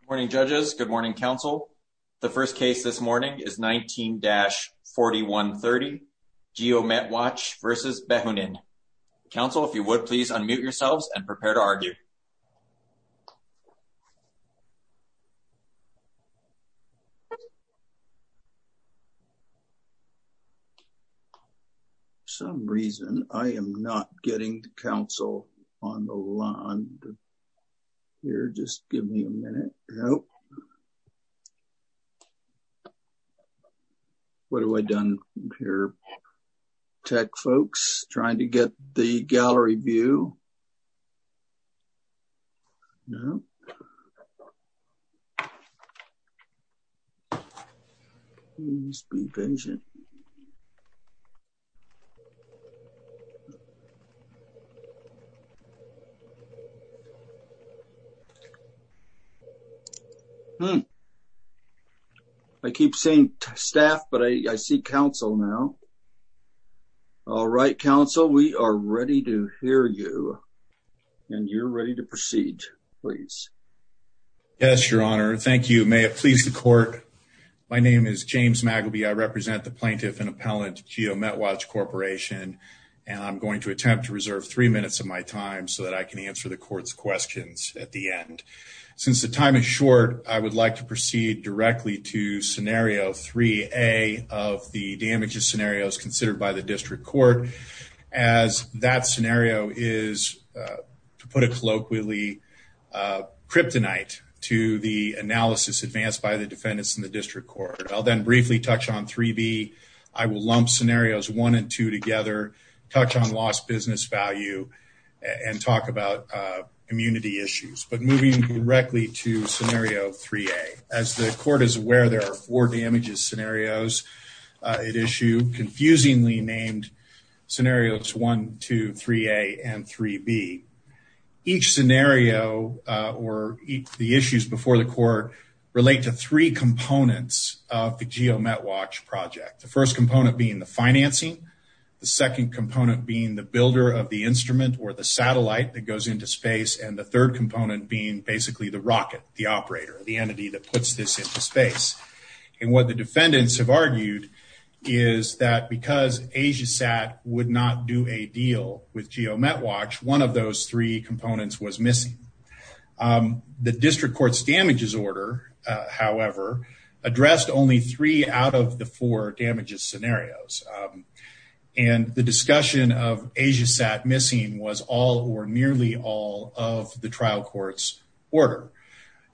Good morning, judges. Good morning, counsel. The first case this morning is 19-4130, GeoMetWatch v. Behunin. Counsel, if you would, please unmute yourselves and prepare to argue. For some reason, I am not getting counsel on the line. Here, just give me a minute. Nope. What have I done here? Tech folks trying to get the gallery view. Nope. Please be patient. I keep seeing staff, but I see counsel now. All right, counsel, we are ready to hear you. And you're ready to proceed, please. Yes, your honor. Thank you. May it please the court. My name is James Magleby. I represent the plaintiff and appellant, GeoMetWatch Corporation. And I'm going to attempt to reserve three minutes of my time so that I can answer the court's questions at the end. Since the time is short, I would like to proceed directly to scenario 3A of the damages scenarios considered by the district court. As that scenario is, to put it colloquially, kryptonite to the analysis advanced by the defendants in the district court. I'll then briefly touch on 3B. I will lump scenarios 1 and 2 together, touch on lost business value, and talk about immunity issues. But moving directly to scenario 3A, as the court is aware, there are four damages scenarios at issue. Confusingly named scenarios 1, 2, 3A and 3B. Each scenario or the issues before the court relate to three components of the GeoMetWatch project. The first component being the financing. The second component being the builder of the instrument or the satellite that goes into space. And the third component being basically the rocket, the operator, the entity that puts this into space. And what the defendants have argued is that because AsiaSat would not do a deal with GeoMetWatch, one of those three components was missing. The district court's damages order, however, addressed only three out of the four damages scenarios. And the discussion of AsiaSat missing was all or nearly all of the trial court's order.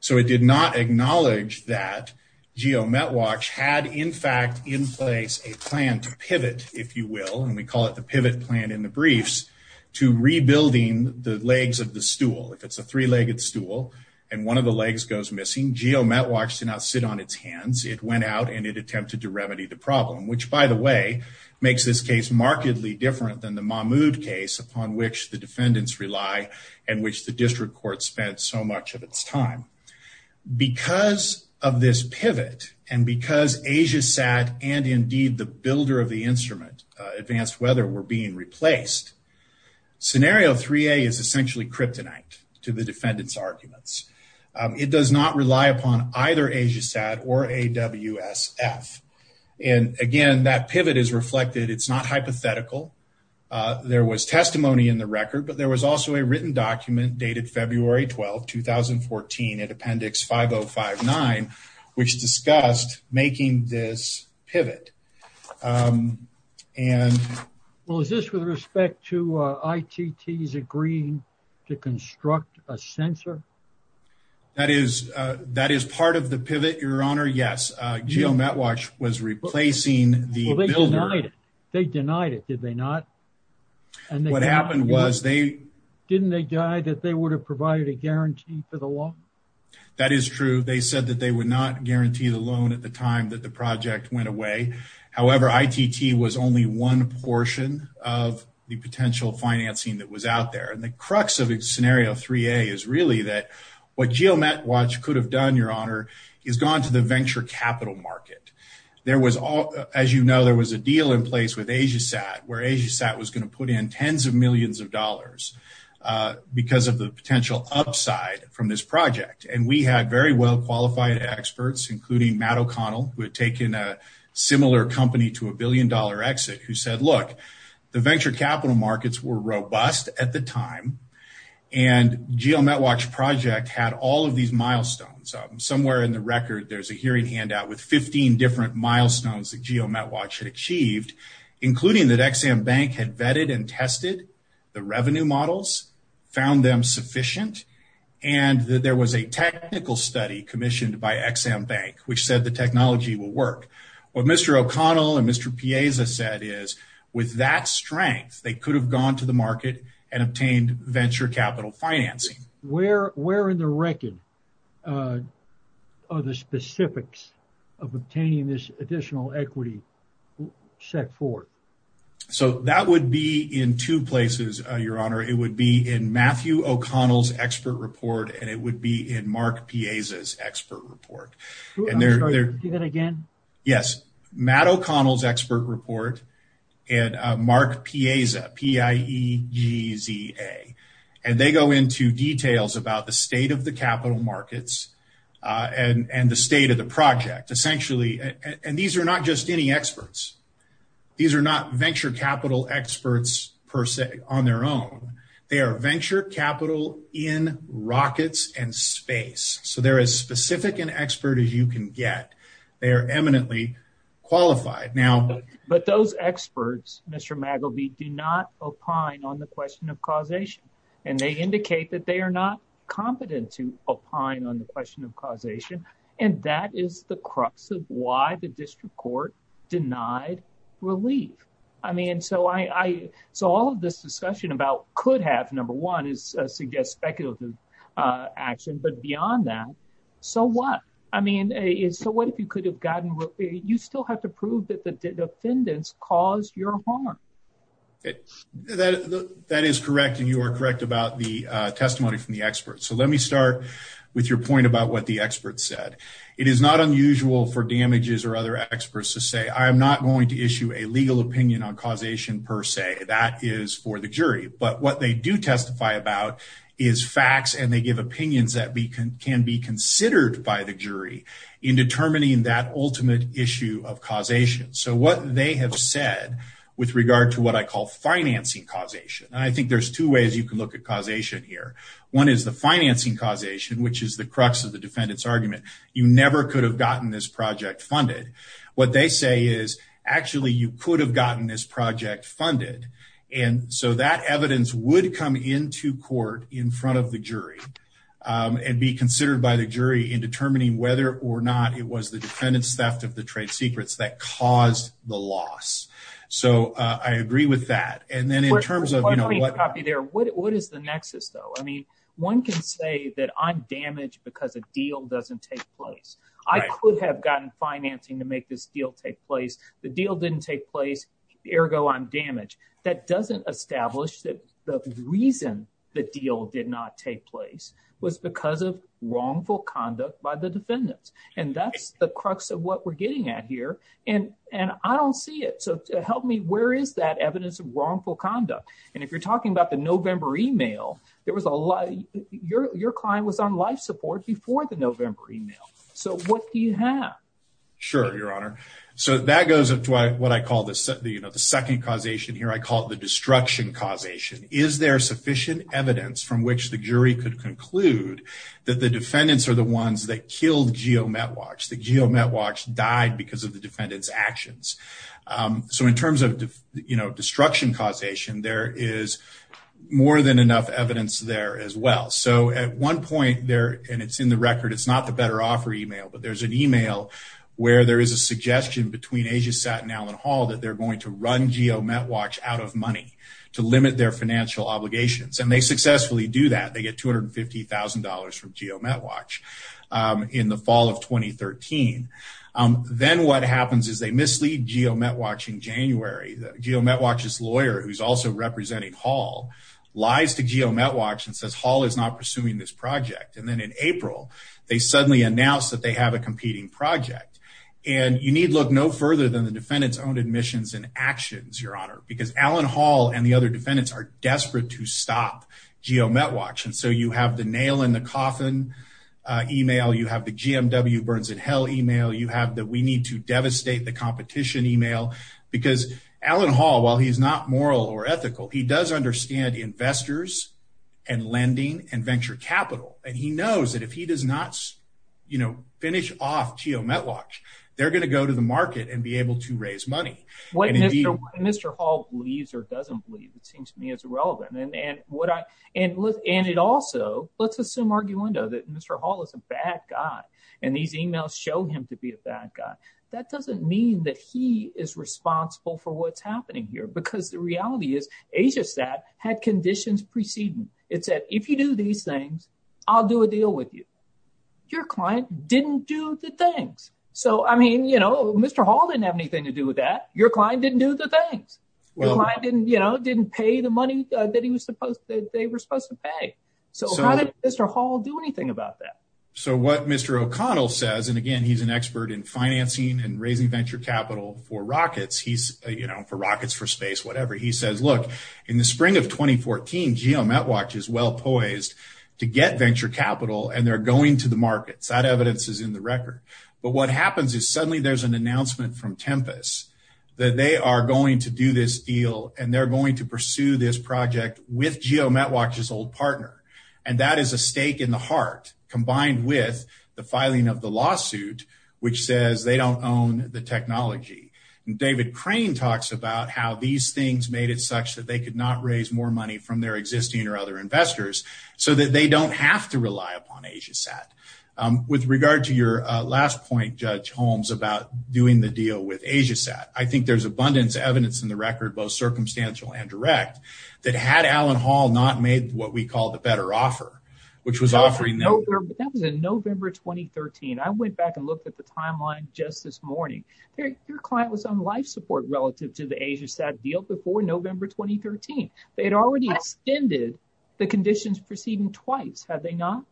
So it did not acknowledge that GeoMetWatch had in fact in place a plan to pivot, if you will, and we call it the pivot plan in the briefs, to rebuilding the legs of the stool. If it's a three-legged stool and one of the legs goes missing, GeoMetWatch did not sit on its hands. It went out and it attempted to remedy the problem, which, by the way, makes this case markedly different than the Mahmoud case, upon which the defendants rely and which the district court spent so much of its time. Because of this pivot and because AsiaSat and indeed the builder of the instrument, Advanced Weather, were being replaced, Scenario 3A is essentially kryptonite to the defendants' arguments. It does not rely upon either AsiaSat or AWSF. And again, that pivot is reflected. It's not hypothetical. There was testimony in the record, but there was also a written document dated February 12, 2014, at Appendix 5059, which discussed making this pivot. Well, is this with respect to ITT's agreeing to construct a sensor? That is part of the pivot, Your Honor, yes. GeoMetWatch was replacing the builder. They denied it, did they not? What happened was they… Didn't they deny that they would have provided a guarantee for the loan? That is true. They said that they would not guarantee the loan at the time that the project went away. However, ITT was only one portion of the potential financing that was out there. And the crux of Scenario 3A is really that what GeoMetWatch could have done, Your Honor, is gone to the venture capital market. As you know, there was a deal in place with AsiaSat where AsiaSat was going to put in tens of millions of dollars because of the potential upside from this project. And we had very well-qualified experts, including Matt O'Connell, who had taken a similar company to a billion-dollar exit, who said, look, the venture capital markets were robust at the time, and GeoMetWatch project had all of these milestones. Somewhere in the record, there's a hearing handout with 15 different milestones that GeoMetWatch had achieved, including that Ex-Im Bank had vetted and tested the revenue models, found them sufficient, and that there was a technical study commissioned by Ex-Im Bank, which said the technology will work. What Mr. O'Connell and Mr. Piazza said is, with that strength, they could have gone to the market and obtained venture capital financing. Where in the record are the specifics of obtaining this additional equity set forth? So that would be in two places, Your Honor. It would be in Matthew O'Connell's expert report, and it would be in Mark Piazza's expert report. I'm sorry, say that again? Yes, Matt O'Connell's expert report and Mark Piazza, P-I-E-G-Z-A. And they go into details about the state of the capital markets and the state of the project, essentially. And these are not just any experts. These are not venture capital experts, per se, on their own. They are venture capital in rockets and space. So they're as specific an expert as you can get. They are eminently qualified. But those experts, Mr. Magleby, do not opine on the question of causation. And they indicate that they are not competent to opine on the question of causation. And that is the crux of why the district court denied relief. I mean, so all of this discussion about could have, number one, suggests speculative action. But beyond that, so what? I mean, so what if you could have gotten relief? You still have to prove that the defendants caused your harm. That is correct, and you are correct about the testimony from the experts. So let me start with your point about what the experts said. It is not unusual for damages or other experts to say, I am not going to issue a legal opinion on causation, per se. That is for the jury. But what they do testify about is facts, and they give opinions that can be considered by the jury in determining that ultimate issue of causation. So what they have said with regard to what I call financing causation, and I think there's two ways you can look at causation here. One is the financing causation, which is the crux of the defendant's argument. You never could have gotten this project funded. What they say is, actually, you could have gotten this project funded. And so that evidence would come into court in front of the jury and be considered by the jury in determining whether or not it was the defendant's theft of the trade secrets that caused the loss. So I agree with that. And then in terms of what is the nexus, though? I mean, one can say that I'm damaged because a deal doesn't take place. I could have gotten financing to make this deal take place. The deal didn't take place. Ergo, I'm damaged. That doesn't establish that the reason the deal did not take place was because of wrongful conduct by the defendants. And that's the crux of what we're getting at here. And I don't see it. So help me, where is that evidence of wrongful conduct? And if you're talking about the November email, your client was on life support before the November email. So what do you have? Sure, Your Honor. So that goes up to what I call the second causation here. I call it the destruction causation. Is there sufficient evidence from which the jury could conclude that the defendants are the ones that killed GeoMetWatch, that GeoMetWatch died because of the defendant's actions? So in terms of destruction causation, there is more than enough evidence there as well. So at one point, and it's in the record, it's not the better offer email, but there's an email where there is a suggestion between AsiaSat and Allen Hall that they're going to run GeoMetWatch out of money to limit their financial obligations. And they successfully do that. They get $250,000 from GeoMetWatch in the fall of 2013. Then what happens is they mislead GeoMetWatch in January. GeoMetWatch's lawyer, who's also representing Hall, lies to GeoMetWatch and says Hall is not pursuing this project. And then in April, they suddenly announce that they have a competing project. And you need look no further than the defendant's own admissions and actions, Your Honor, because Allen Hall and the other defendants are desperate to stop GeoMetWatch. And so you have the nail in the coffin email. You have the GMW burns in hell email. You have the we need to devastate the competition email. Because Allen Hall, while he's not moral or ethical, he does understand investors and lending and venture capital. And he knows that if he does not finish off GeoMetWatch, they're going to go to the market and be able to raise money. What Mr. Hall believes or doesn't believe, it seems to me, is irrelevant. And it also let's assume arguendo that Mr. Hall is a bad guy. And these emails show him to be a bad guy. That doesn't mean that he is responsible for what's happening here, because the reality is Asia Stat had conditions preceding. It said, if you do these things, I'll do a deal with you. Your client didn't do the things. So, I mean, you know, Mr. Hall didn't have anything to do with that. Your client didn't do the things. Well, I didn't, you know, didn't pay the money that he was supposed to. They were supposed to pay. So how did Mr. Hall do anything about that? So what Mr. O'Connell says, and again, he's an expert in financing and raising venture capital for rockets. He's, you know, for rockets, for space, whatever. He says, look, in the spring of 2014, GeoMetWatch is well poised to get venture capital and they're going to the markets. That evidence is in the record. But what happens is suddenly there's an announcement from Tempest that they are going to do this deal and they're going to pursue this project with GeoMetWatch's old partner. And that is a stake in the heart, combined with the filing of the lawsuit, which says they don't own the technology. David Crane talks about how these things made it such that they could not raise more money from their existing or other investors so that they don't have to rely upon Asia Stat. With regard to your last point, Judge Holmes, about doing the deal with Asia Stat, I think there's abundance of evidence in the record, both circumstantial and direct, that had Alan Hall not made what we call the better offer, which was offering. That was in November 2013. I went back and looked at the timeline just this morning. Your client was on life support relative to the Asia Stat deal before November 2013. They had already extended the conditions proceeding twice, had they not?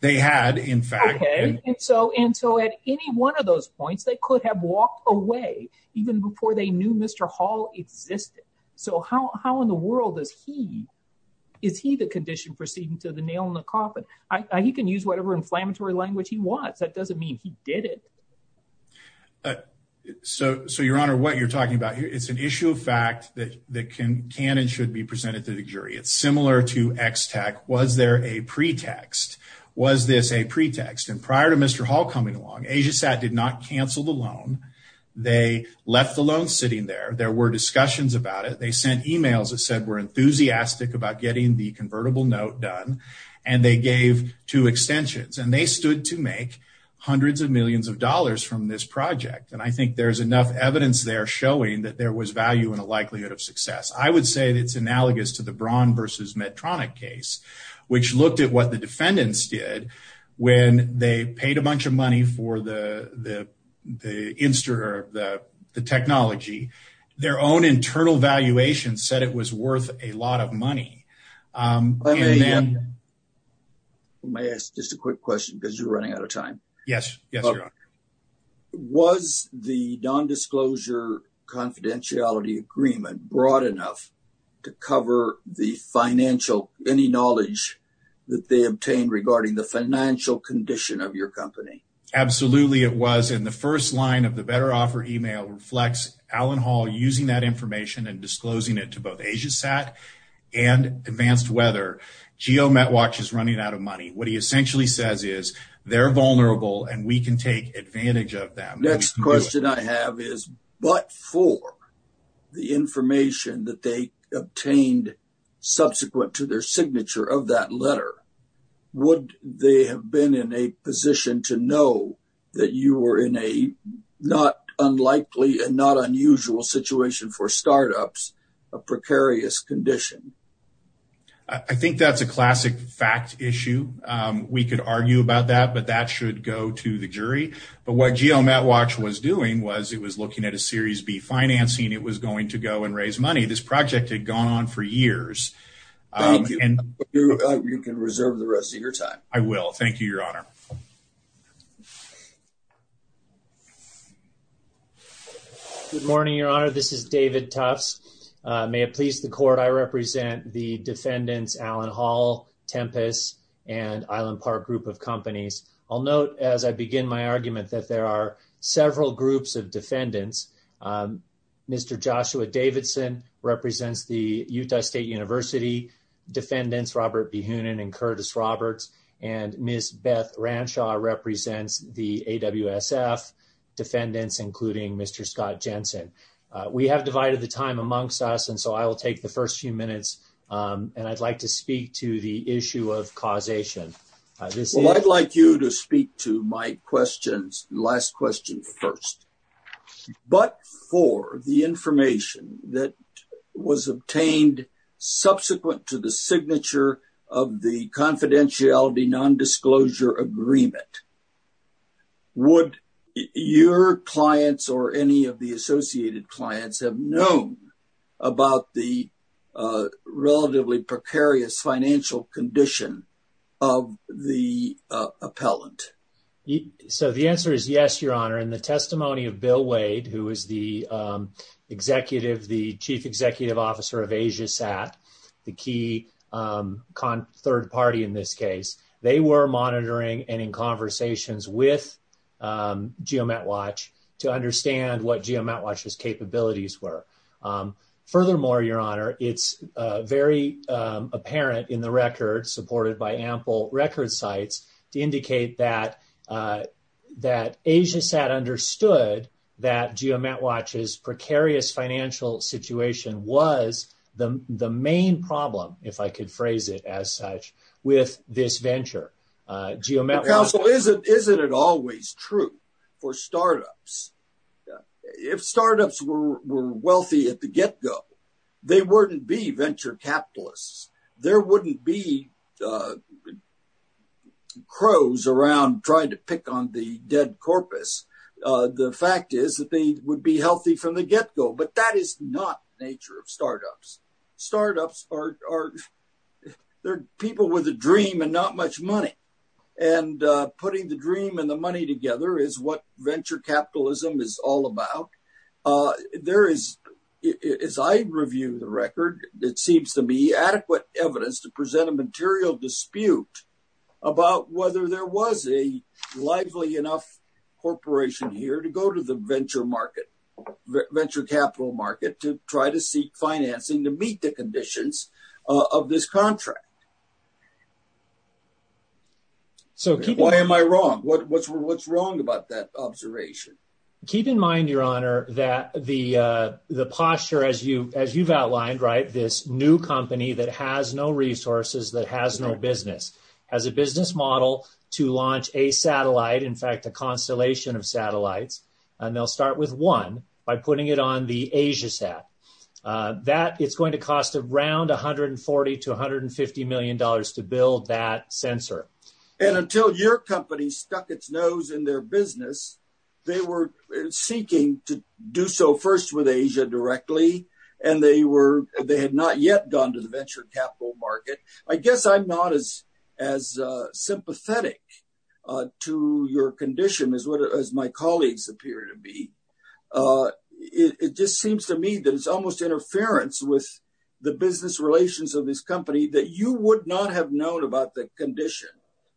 They had, in fact. And so at any one of those points, they could have walked away even before they knew Mr. Hall existed. So how in the world is he? Is he the condition proceeding to the nail in the coffin? He can use whatever inflammatory language he wants. That doesn't mean he did it. So, Your Honor, what you're talking about here, it's an issue of fact that can and should be presented to the jury. It's similar to Extech. Was there a pretext? Was this a pretext? And prior to Mr. Hall coming along, Asia Stat did not cancel the loan. They left the loan sitting there. There were discussions about it. They sent emails that said were enthusiastic about getting the convertible note done, and they gave two extensions. And they stood to make hundreds of millions of dollars from this project. And I think there's enough evidence there showing that there was value and a likelihood of success. I would say that it's analogous to the Braun versus Medtronic case, which looked at what the defendants did when they paid a bunch of money for the technology. Their own internal valuation said it was worth a lot of money. May I ask just a quick question because you're running out of time? Yes, Your Honor. Was the nondisclosure confidentiality agreement broad enough to cover the financial, any knowledge that they obtained regarding the financial condition of your company? Absolutely, it was. And the first line of the Better Offer email reflects Alan Hall using that information and disclosing it to both Asia Stat and Advanced Weather. GeoMetWatch is running out of money. What he essentially says is they're vulnerable and we can take advantage of them. Next question I have is, but for the information that they obtained subsequent to their signature of that letter, would they have been in a position to know that you were in a not unlikely and not unusual situation for startups, a precarious condition? I think that's a classic fact issue. We could argue about that, but that should go to the jury. But what GeoMetWatch was doing was it was looking at a Series B financing. It was going to go and raise money. This project had gone on for years. Thank you. You can reserve the rest of your time. I will. Thank you, Your Honor. Good morning, Your Honor. This is David Tufts. May it please the Court, I represent the defendants, Alan Hall, Tempest, and Island Park Group of Companies. I'll note as I begin my argument that there are several groups of defendants. Mr. Joshua Davidson represents the Utah State University defendants, Robert Behunin and Curtis Roberts, and Ms. Beth Ranshaw represents the AWSF defendants, including Mr. Scott Jensen. We have divided the time amongst us, and so I will take the first few minutes, and I'd like to speak to the issue of causation. Well, I'd like you to speak to my last question first. But for the information that was obtained subsequent to the signature of the confidentiality nondisclosure agreement, would your clients or any of the associated clients have known about the relatively precarious financial condition of the appellant? So the answer is yes, Your Honor. In the testimony of Bill Wade, who is the chief executive officer of AsiaSat, the key third party in this case, they were monitoring and in conversations with GeoMetWatch to understand what GeoMetWatch's capabilities were. Furthermore, Your Honor, it's very apparent in the record, supported by ample record sites, to indicate that AsiaSat understood that GeoMetWatch's precarious financial situation was the main problem, if I could phrase it as such, with this venture. Counsel, isn't it always true for startups? If startups were wealthy at the get-go, they wouldn't be venture capitalists. There wouldn't be crows around trying to pick on the dead corpus. The fact is that they would be healthy from the get-go. But that is not the nature of startups. Startups are people with a dream and not much money. And putting the dream and the money together is what venture capitalism is all about. As I review the record, it seems to me adequate evidence to present a material dispute about whether there was a lively enough corporation here to go to the venture capital market to try to seek financing to meet the conditions of this contract. Why am I wrong? What's wrong about that observation? Keep in mind, Your Honor, that the posture, as you've outlined, this new company that has no resources, that has no business, has a business model to launch a satellite, in fact, a constellation of satellites. And they'll start with one by putting it on the AsiaSat. It's going to cost around $140 million to $150 million to build that sensor. And until your company stuck its nose in their business, they were seeking to do so first with Asia directly. And they had not yet gone to the venture capital market. I guess I'm not as sympathetic to your condition as my colleagues appear to be. It just seems to me that it's almost interference with the business relations of this company that you would not have known about the condition,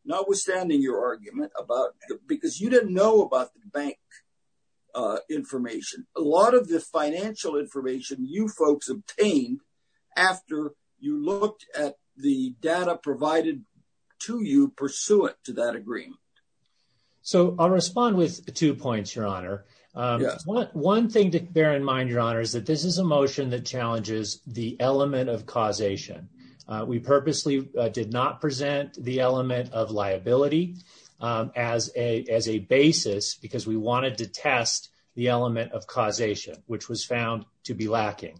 notwithstanding your argument about it, because you didn't know about the bank information. A lot of the financial information you folks obtained after you looked at the data provided to you pursuant to that agreement. So I'll respond with two points, Your Honor. One thing to bear in mind, Your Honor, is that this is a motion that challenges the element of causation. We purposely did not present the element of liability as a basis because we wanted to test the element of causation, which was found to be lacking.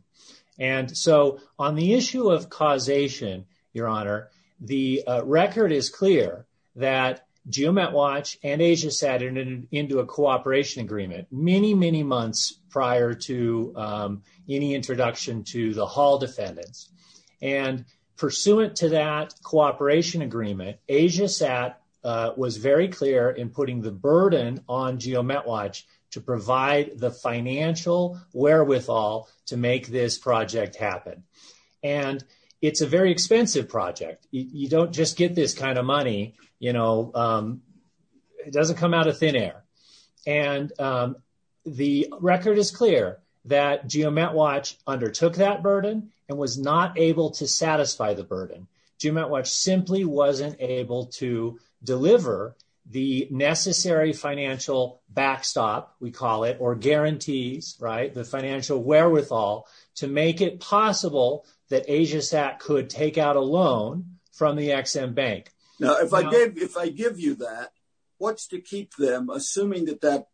And so on the issue of causation, Your Honor, the record is clear that GeoMetWatch and AsiaSat entered into a cooperation agreement many, many months prior to any introduction to the Hall defendants. And pursuant to that cooperation agreement, AsiaSat was very clear in putting the burden on GeoMetWatch to provide the financial wherewithal to make this project happen. And it's a very expensive project. You don't just get this kind of money, you know, it doesn't come out of thin air. And the record is clear that GeoMetWatch undertook that burden and was not able to satisfy the burden. GeoMetWatch simply wasn't able to deliver the necessary financial backstop, we call it, or guarantees, right, the financial wherewithal to make it possible that AsiaSat could take out a loan from the Ex-Im Bank. Now, if I give you that, what's to keep them, assuming that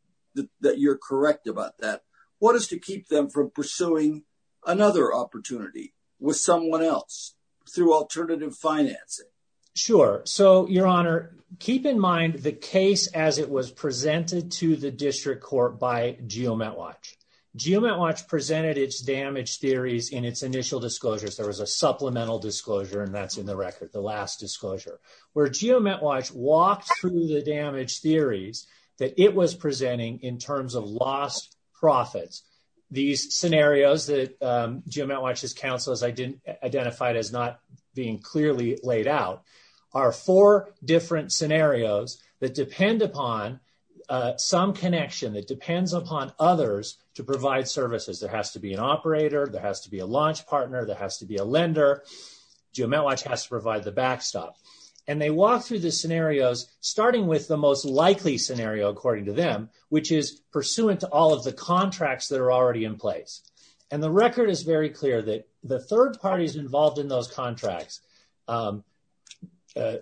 you're correct about that, what is to keep them from pursuing another opportunity with someone else through alternative financing? Sure. So, Your Honor, keep in mind the case as it was presented to the district court by GeoMetWatch. GeoMetWatch presented its damage theories in its initial disclosures. There was a supplemental disclosure, and that's in the record, the last disclosure, where GeoMetWatch walked through the damage theories that it was presenting in terms of lost profits. These scenarios that GeoMetWatch's counsel identified as not being clearly laid out are four different scenarios that depend upon some connection, that depends upon others to provide services. There has to be an operator, there has to be a launch partner, there has to be a lender. GeoMetWatch has to provide the backstop. And they walk through the scenarios, starting with the most likely scenario, according to them, which is pursuant to all of the contracts that are already in place. And the record is very clear that the third parties involved in those contracts,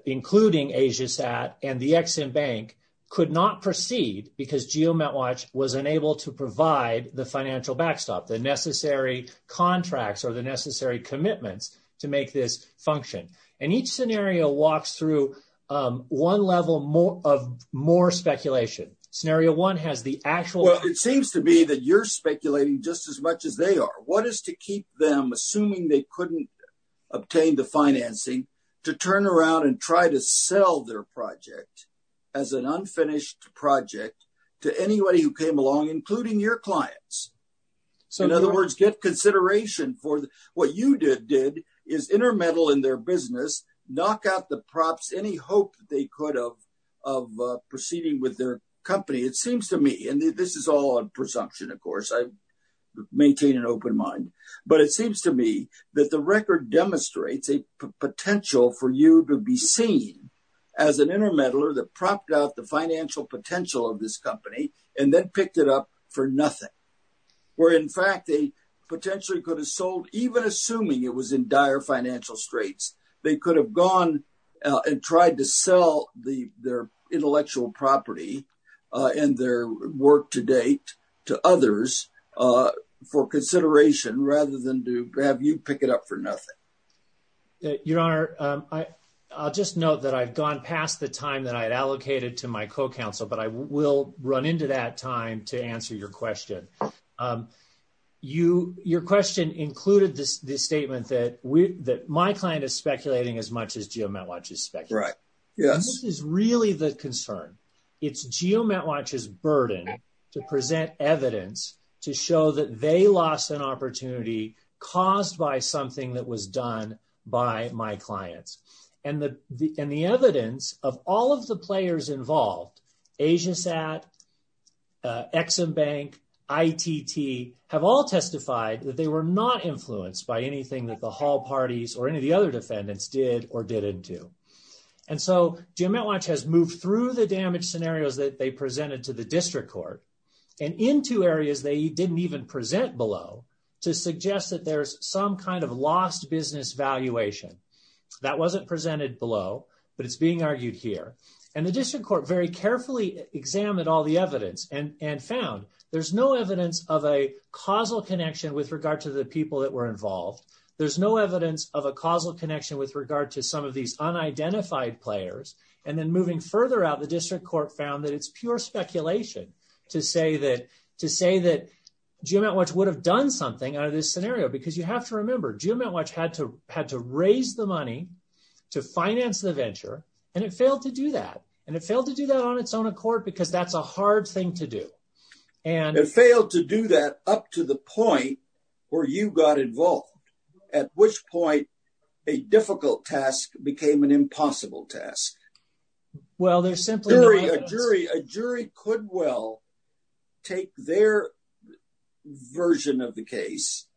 including AsiaSat and the Ex-Im Bank, could not proceed because GeoMetWatch was unable to provide the financial backstop, the necessary contracts or the necessary commitments to make this function. And each scenario walks through one level of more speculation. Scenario one has the actual… Well, it seems to me that you're speculating just as much as they are. What is to keep them, assuming they couldn't obtain the financing, to turn around and try to sell their project as an unfinished project to anybody who came along, including your clients? In other words, get consideration for what you did is intermeddle in their business, knock out the props, any hope they could of proceeding with their company. It seems to me, and this is all a presumption, of course, I maintain an open mind. But it seems to me that the record demonstrates a potential for you to be seen as an intermeddler that propped out the financial potential of this company and then picked it up for nothing. Where, in fact, they potentially could have sold, even assuming it was in dire financial straits, they could have gone and tried to sell their intellectual property and their work to date to others for consideration rather than to have you pick it up for nothing. Your Honor, I'll just note that I've gone past the time that I had allocated to my co-counsel, but I will run into that time to answer your question. Your question included the statement that my client is speculating as much as GeoMetwatch is speculating. Right. Yes. This is really the concern. It's GeoMetwatch's burden to present evidence to show that they lost an opportunity caused by something that was done by my clients. And the evidence of all of the players involved, AsiaSat, Ex-Im Bank, ITT, have all testified that they were not influenced by anything that the Hall parties or any of the other defendants did or didn't do. And so, GeoMetwatch has moved through the damage scenarios that they presented to the district court and into areas they didn't even present below to suggest that there's some kind of lost business valuation. That wasn't presented below, but it's being argued here. And the district court very carefully examined all the evidence and found there's no evidence of a causal connection with regard to the people that were involved. There's no evidence of a causal connection with regard to some of these unidentified players. And then moving further out, the district court found that it's pure speculation to say that GeoMetwatch would have done something out of this scenario. Because you have to remember, GeoMetwatch had to raise the money to finance the venture, and it failed to do that. And it failed to do that on its own accord because that's a hard thing to do. It failed to do that up to the point where you got involved, at which point a difficult task became an impossible task. Well, there's simply no evidence. A jury could well take their version of the case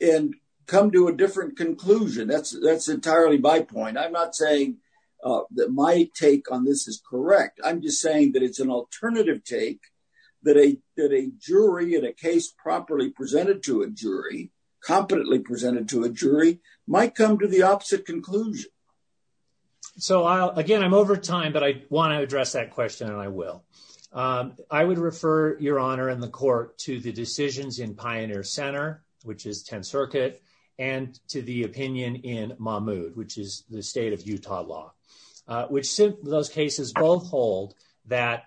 and come to a different conclusion. That's entirely my point. I'm not saying that my take on this is correct. I'm just saying that it's an alternative take that a jury in a case properly presented to a jury, competently presented to a jury, might come to the opposite conclusion. So, again, I'm over time, but I want to address that question, and I will. I would refer Your Honor and the court to the decisions in Pioneer Center, which is 10th Circuit, and to the opinion in Mahmoud, which is the state of Utah law. Those cases both hold that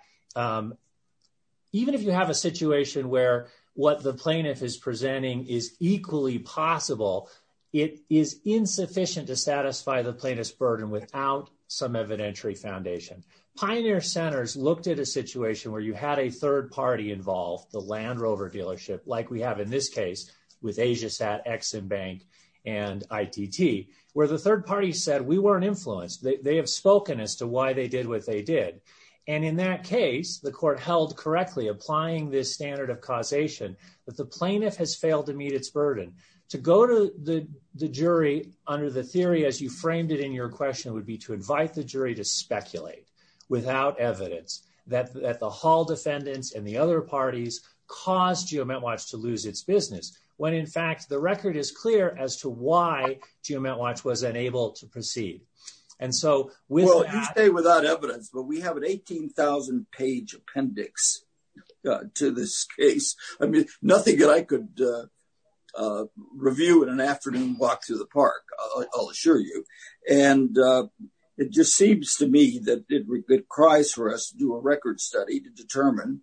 even if you have a situation where what the plaintiff is presenting is equally possible, it is insufficient to satisfy the plaintiff's burden without some evidentiary foundation. Pioneer Centers looked at a situation where you had a third party involved, the Land Rover dealership, like we have in this case with AsiaSat, Ex-Im Bank, and ITT, where the third party said we weren't influenced. They have spoken as to why they did what they did. And in that case, the court held correctly, applying this standard of causation, that the plaintiff has failed to meet its burden. To go to the jury under the theory, as you framed it in your question, would be to invite the jury to speculate without evidence that the Hall defendants and the other parties caused GeoMetWatch to lose its business, when, in fact, the record is clear as to why GeoMetWatch was unable to proceed. Well, you say without evidence, but we have an 18,000-page appendix to this case. I mean, nothing that I could review in an afternoon walk through the park, I'll assure you. And it just seems to me that it requires for us to do a record study to determine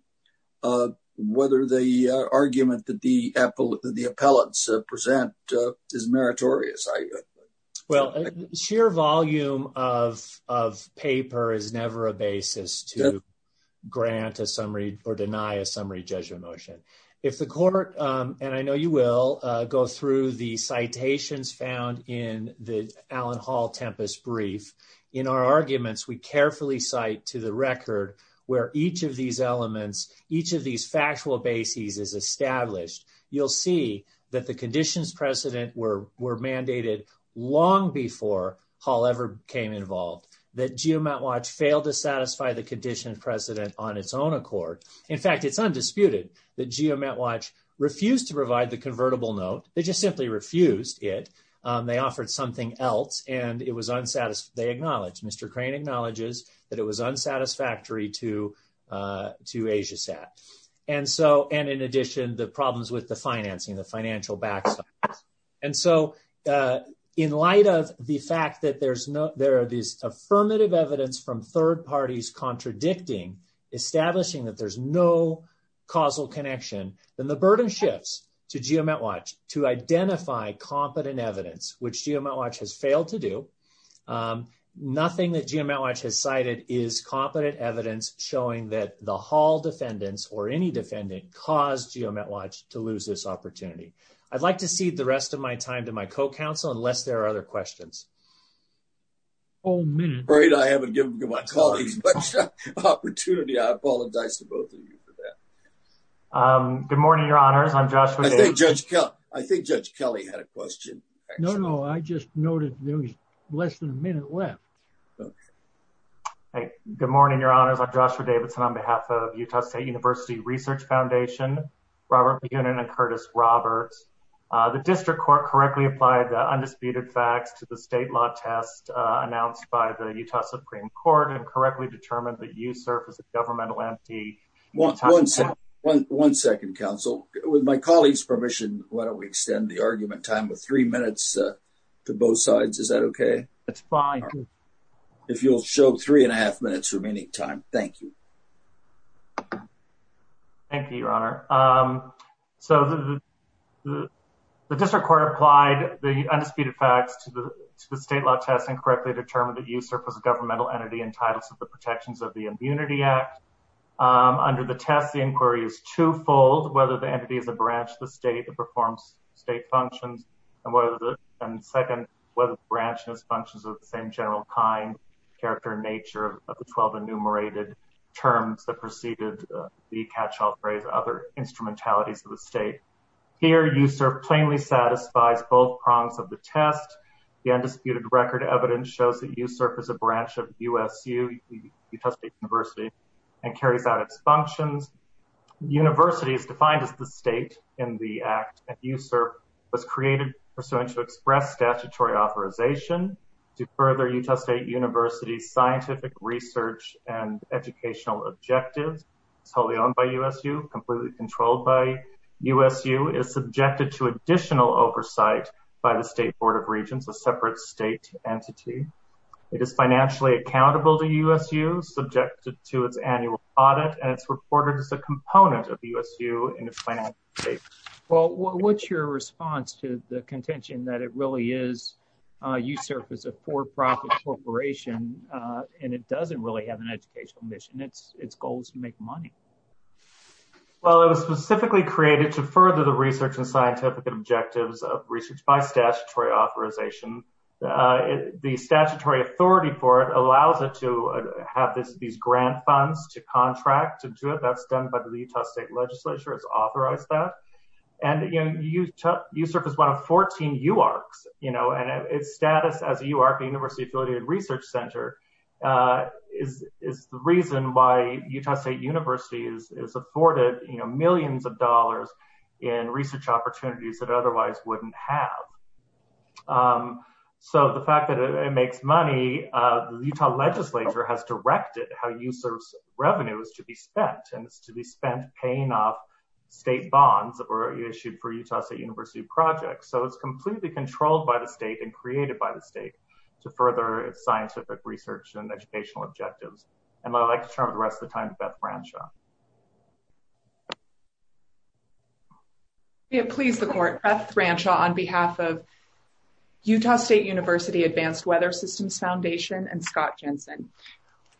whether the argument that the appellants present is meritorious. Well, sheer volume of paper is never a basis to grant a summary or deny a summary judgment motion. If the court, and I know you will, go through the citations found in the Allen Hall Tempest brief, in our arguments, we carefully cite to the record where each of these elements, each of these factual bases is established. You'll see that the conditions precedent were mandated long before Hall ever became involved, that GeoMetWatch failed to satisfy the conditions precedent on its own accord. In fact, it's undisputed that GeoMetWatch refused to provide the convertible note. They just simply refused it. They offered something else, and it was unsatisfactory. They acknowledged, Mr. Crane acknowledges, that it was unsatisfactory to AsiaSat. And in addition, the problems with the financing, the financial backstop. And so, in light of the fact that there are these affirmative evidence from third parties contradicting, establishing that there's no causal connection, then the burden shifts to GeoMetWatch to identify competent evidence, which GeoMetWatch has failed to do. Nothing that GeoMetWatch has cited is competent evidence showing that the Hall defendants, or any defendant, caused GeoMetWatch to lose this opportunity. I'd like to cede the rest of my time to my co-counsel, unless there are other questions. Oh, man. I haven't given my colleagues much opportunity. I apologize to both of you for that. Good morning, Your Honors. I'm Joshua Gates. I think Judge Kelly had a question. No, no. I just noted there was less than a minute left. Good morning, Your Honors. I'm Joshua Davidson on behalf of Utah State University Research Foundation. Robert Buhonen and Curtis Roberts. The district court correctly applied the undisputed facts to the state law test announced by the Utah Supreme Court and correctly determined that you serve as a governmental empty. One second, counsel. With my colleagues' permission, why don't we extend the argument time with three minutes to both sides. Is that okay? That's fine. If you'll show three and a half minutes remaining time. Thank you. Thank you, Your Honor. So, the district court applied the undisputed facts to the state law test and correctly determined that you serve as a governmental entity entitled to the protections of the Immunity Act. Under the test, the inquiry is twofold. Whether the entity is a branch of the state that performs state functions, and second, whether the branch has functions of the same general kind, character, and nature of the 12 enumerated terms that preceded the catch-all phrase, other instrumentalities of the state. Here, you serve plainly satisfies both prongs of the test. The undisputed record evidence shows that you serve as a branch of USU, Utah State University, and carries out its functions. University is defined as the state in the act, and you serve as created pursuant to express statutory authorization to further Utah State University's scientific research and educational objectives. It is held by USU, completely controlled by USU, is subjected to additional oversight by the State Board of Regents, a separate state entity. It is financially accountable to USU, subjected to its annual audit, and it's reported as a component of USU in its financial state. Well, what's your response to the contention that it really is, you serve as a for-profit corporation, and it doesn't really have an educational mission? Its goal is to make money. Well, it was specifically created to further the research and scientific objectives of research by statutory authorization. The statutory authority for it allows it to have these grant funds to contract to do it. That's done by the Utah State legislature. It's authorized that. And you serve as one of 14 UARCs, and its status as a UARC, the University Affiliated Research Center, is the reason why Utah State University is afforded millions of dollars in research opportunities that otherwise wouldn't have. So the fact that it makes money, the Utah legislature has directed how USU's revenue is to be spent, and it's to be spent paying off state bonds that were issued for Utah State University projects. So it's completely controlled by the state and created by the state to further its scientific research and educational objectives. And I'd like to turn over the rest of the time to Beth Ranshaw. Please, the court. Beth Ranshaw on behalf of Utah State University Advanced Weather Systems Foundation and Scott Jensen.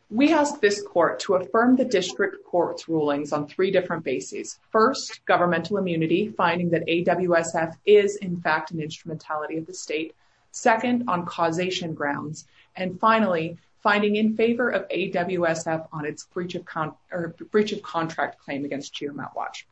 We asked this court to affirm the district court's rulings on three different bases. First, governmental immunity, finding that AWSF is in fact an instrumentality of the state. Second, on causation grounds. And finally, finding in favor of AWSF on its breach of contract claim against GeoMetWatch.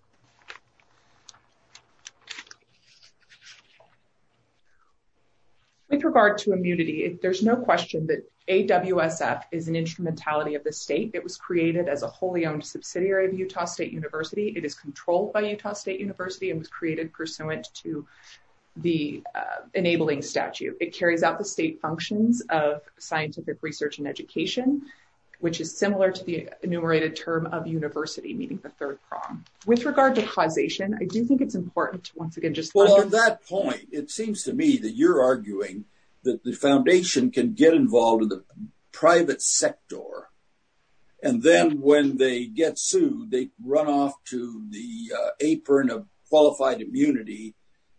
With regard to immunity, there's no question that AWSF is an instrumentality of the state. It was created as a wholly owned subsidiary of Utah State University. It is controlled by Utah State University and was created pursuant to the enabling statute. It carries out the state functions of scientific research and education, which is similar to the enumerated term of university, meaning the third prong. With regard to causation, I do think it's important to once again just-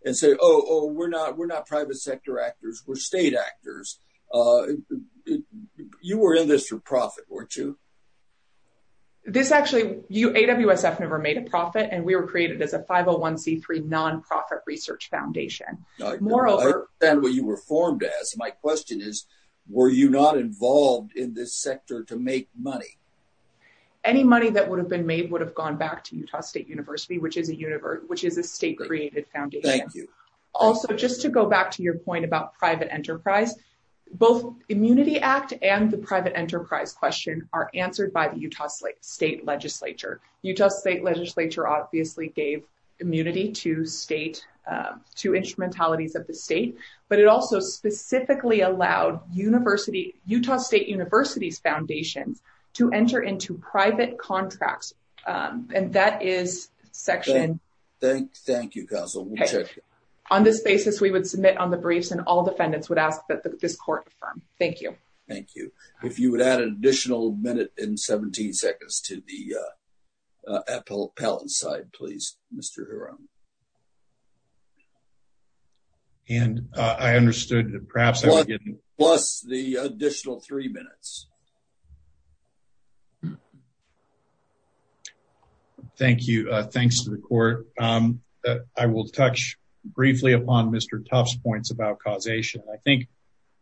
and say, oh, we're not private sector actors, we're state actors. You were in this for profit, weren't you? This actually- AWSF never made a profit and we were created as a 501c3 nonprofit research foundation. I understand where you were formed as. My question is, were you not involved in this sector to make money? Any money that would have been made would have gone back to Utah State University, which is a state-created foundation. Also, just to go back to your point about private enterprise, both Immunity Act and the private enterprise question are answered by the Utah State Legislature. Utah State Legislature obviously gave immunity to instrumentalities of the state, but it also specifically allowed Utah State University's foundations to enter into private contracts. And that is section- Thank you, Counsel. On this basis, we would submit on the briefs and all defendants would ask that this court affirm. Thank you. If you would add an additional minute and 17 seconds to the appellate side, please, Mr. Hiram. And I understood, perhaps- Plus the additional three minutes. I will touch briefly upon Mr. Tuft's points about causation. I think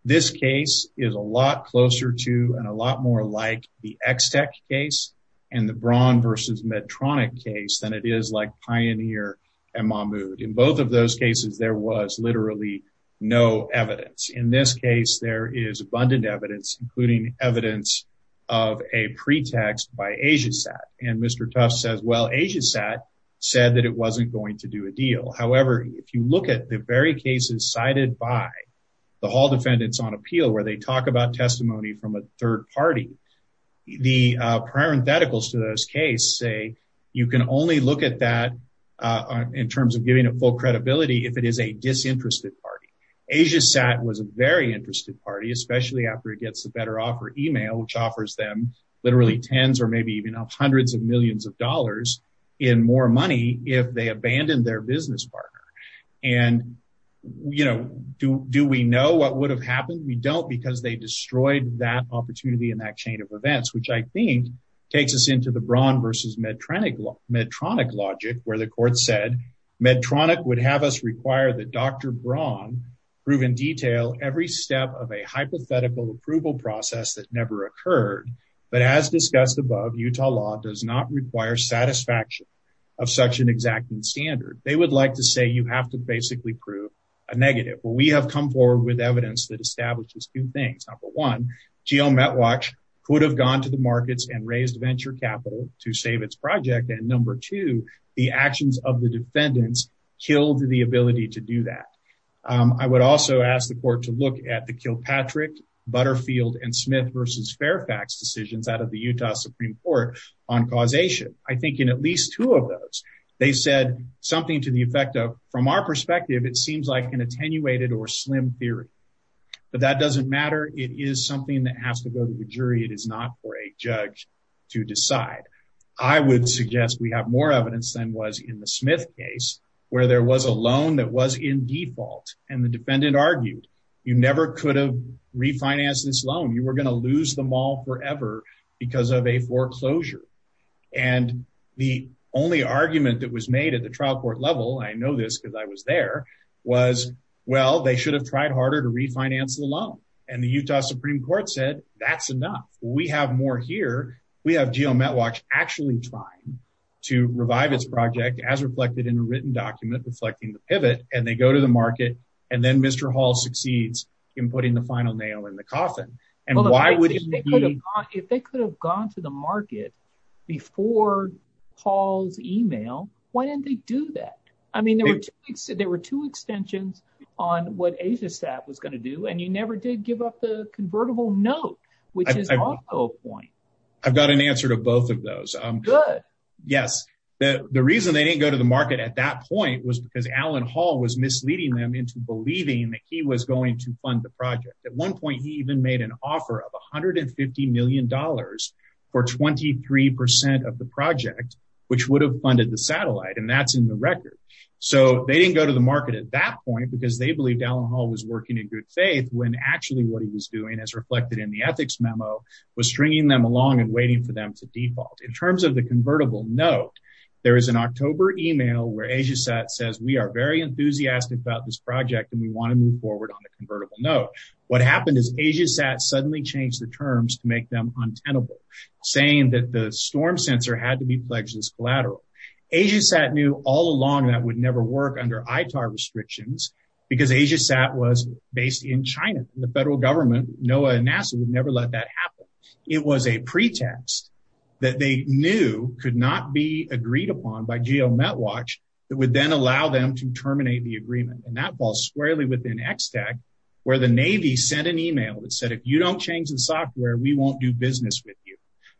this case is a lot closer to and a lot more like the Extech case and the Braun versus Medtronic case than it is like Pioneer and Mahmoud. In both of those cases, there was literally no evidence. In this case, there is abundant evidence, including evidence of a pretext by AsiaSat. And Mr. Tuft says, well, AsiaSat said that it wasn't going to do a deal. However, if you look at the very cases cited by the Hall Defendants on Appeal, where they talk about testimony from a third party, the parentheticals to those cases say you can only look at that in terms of giving it full credibility if it is a disinterested party. AsiaSat was a very interested party, especially after it gets the better offer email, which offers them literally tens or maybe even hundreds of millions of dollars in more money if they abandoned their business partner. And, you know, do we know what would have happened? We don't because they destroyed that opportunity in that chain of events, which I think takes us into the Braun versus Medtronic logic, where the court said Medtronic would have us require that Dr. Braun prove in detail every step of a hypothetical approval process that never occurred. But as discussed above, Utah law does not require satisfaction of such an exacting standard. They would like to say you have to basically prove a negative. Well, we have come forward with evidence that establishes two things. Number one, G.O. Metwatch could have gone to the markets and raised venture capital to save its project. And number two, the actions of the defendants killed the ability to do that. I would also ask the court to look at the Kilpatrick, Butterfield and Smith versus Fairfax decisions out of the Utah Supreme Court on causation. I think in at least two of those, they said something to the effect of from our perspective, it seems like an attenuated or slim theory. But that doesn't matter. It is something that has to go to the jury. It is not for a judge to decide. I would suggest we have more evidence than was in the Smith case where there was a loan that was in default. And the defendant argued you never could have refinanced this loan. You were going to lose them all forever because of a foreclosure. And the only argument that was made at the trial court level, I know this because I was there, was, well, they should have tried harder to refinance the loan. And the Utah Supreme Court said that's enough. We have more here. We have G.O. Metwatch actually trying to revive its project as reflected in a written document reflecting the pivot. And they go to the market and then Mr. Hall succeeds in putting the final nail in the coffin. If they could have gone to the market before Hall's email, why didn't they do that? I mean, there were two extensions on what Asiastat was going to do, and you never did give up the convertible note, which is also a point. I've got an answer to both of those. Good. Yes. The reason they didn't go to the market at that point was because Alan Hall was misleading them into believing that he was going to fund the project. At one point, he even made an offer of 150 million dollars for 23 percent of the project, which would have funded the satellite. And that's in the record. So they didn't go to the market at that point because they believed Alan Hall was working in good faith when actually what he was doing, as reflected in the ethics memo, was stringing them along and waiting for them to default. In terms of the convertible note, there is an October email where Asiastat says, we are very enthusiastic about this project and we want to move forward on the convertible note. What happened is Asiastat suddenly changed the terms to make them untenable, saying that the storm sensor had to be pledged as collateral. Asiastat knew all along that would never work under ITAR restrictions because Asiastat was based in China. The federal government, NOAA and NASA, would never let that happen. It was a pretext that they knew could not be agreed upon by GeoNetwatch that would then allow them to terminate the agreement. And that falls squarely within Extech, where the Navy sent an email that said, if you don't change the software, we won't do business with you.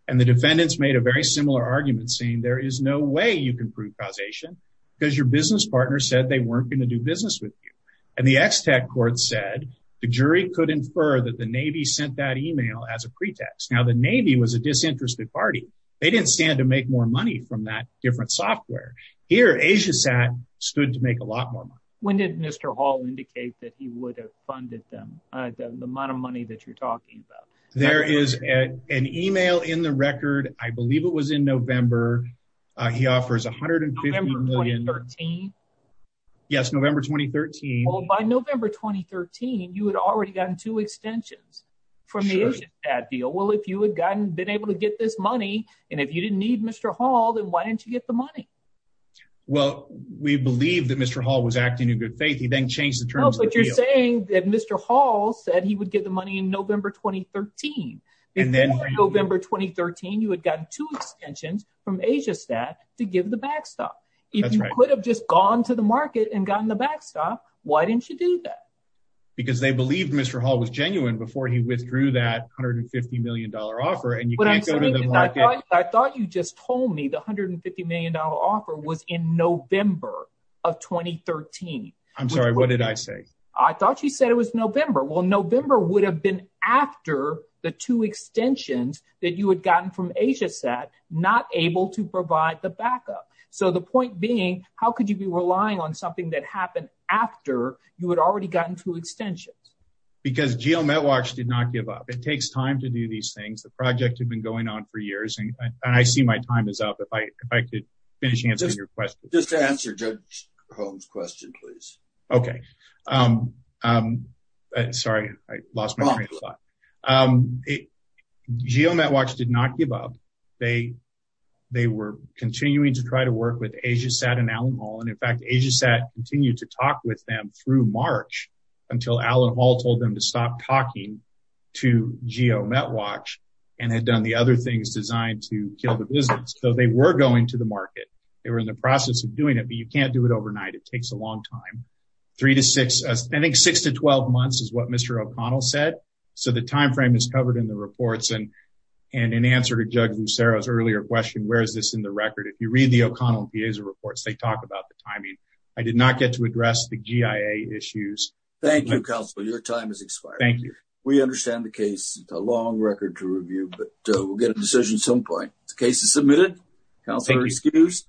And the defendants made a very similar argument, saying there is no way you can prove causation because your business partner said they weren't going to do business with you. And the Extech court said the jury could infer that the Navy sent that email as a pretext. Now, the Navy was a disinterested party. They didn't stand to make more money from that different software. Here, Asiastat stood to make a lot more money. Why didn't Mr. Hall indicate that he would have funded them, the amount of money that you're talking about? There is an email in the record. I believe it was in November. He offers $150 million. November 2013? Yes, November 2013. Well, by November 2013, you had already gotten two extensions from the Asiastat deal. Well, if you had been able to get this money, and if you didn't need Mr. Hall, then why didn't you get the money? Well, we believe that Mr. Hall was acting in good faith. He then changed the terms of the deal. But you're saying that Mr. Hall said he would get the money in November 2013. And then by November 2013, you had gotten two extensions from Asiastat to give the backstop. If you could have just gone to the market and gotten the backstop, why didn't you do that? Because they believed Mr. Hall was genuine before he withdrew that $150 million offer. I thought you just told me the $150 million offer was in November of 2013. I'm sorry, what did I say? I thought you said it was November. Well, November would have been after the two extensions that you had gotten from Asiastat, not able to provide the backup. So the point being, how could you be relying on something that happened after you had already gotten two extensions? Because GeoNetwatch did not give up. It takes time to do these things. The project had been going on for years. And I see my time is up. If I could finish answering your question. Just answer Judge Holmes' question, please. Okay. Sorry, I lost my train of thought. GeoNetwatch did not give up. They were continuing to try to work with Asiastat and Alan Hall. And in fact, Asiastat continued to talk with them through March until Alan Hall told them to stop talking to GeoNetwatch and had done the other things designed to kill the business. So they were going to the market. They were in the process of doing it, but you can't do it overnight. It takes a long time. I think six to 12 months is what Mr. O'Connell said. So the timeframe is covered in the reports. And in answer to Judge Lucero's earlier question, where is this in the record? If you read the O'Connell and Piazza reports, they talk about the timing. I did not get to address the GIA issues. Thank you, Counselor. Your time has expired. Thank you. We understand the case. It's a long record to review, but we'll get a decision at some point. The case is submitted. Counselor excused.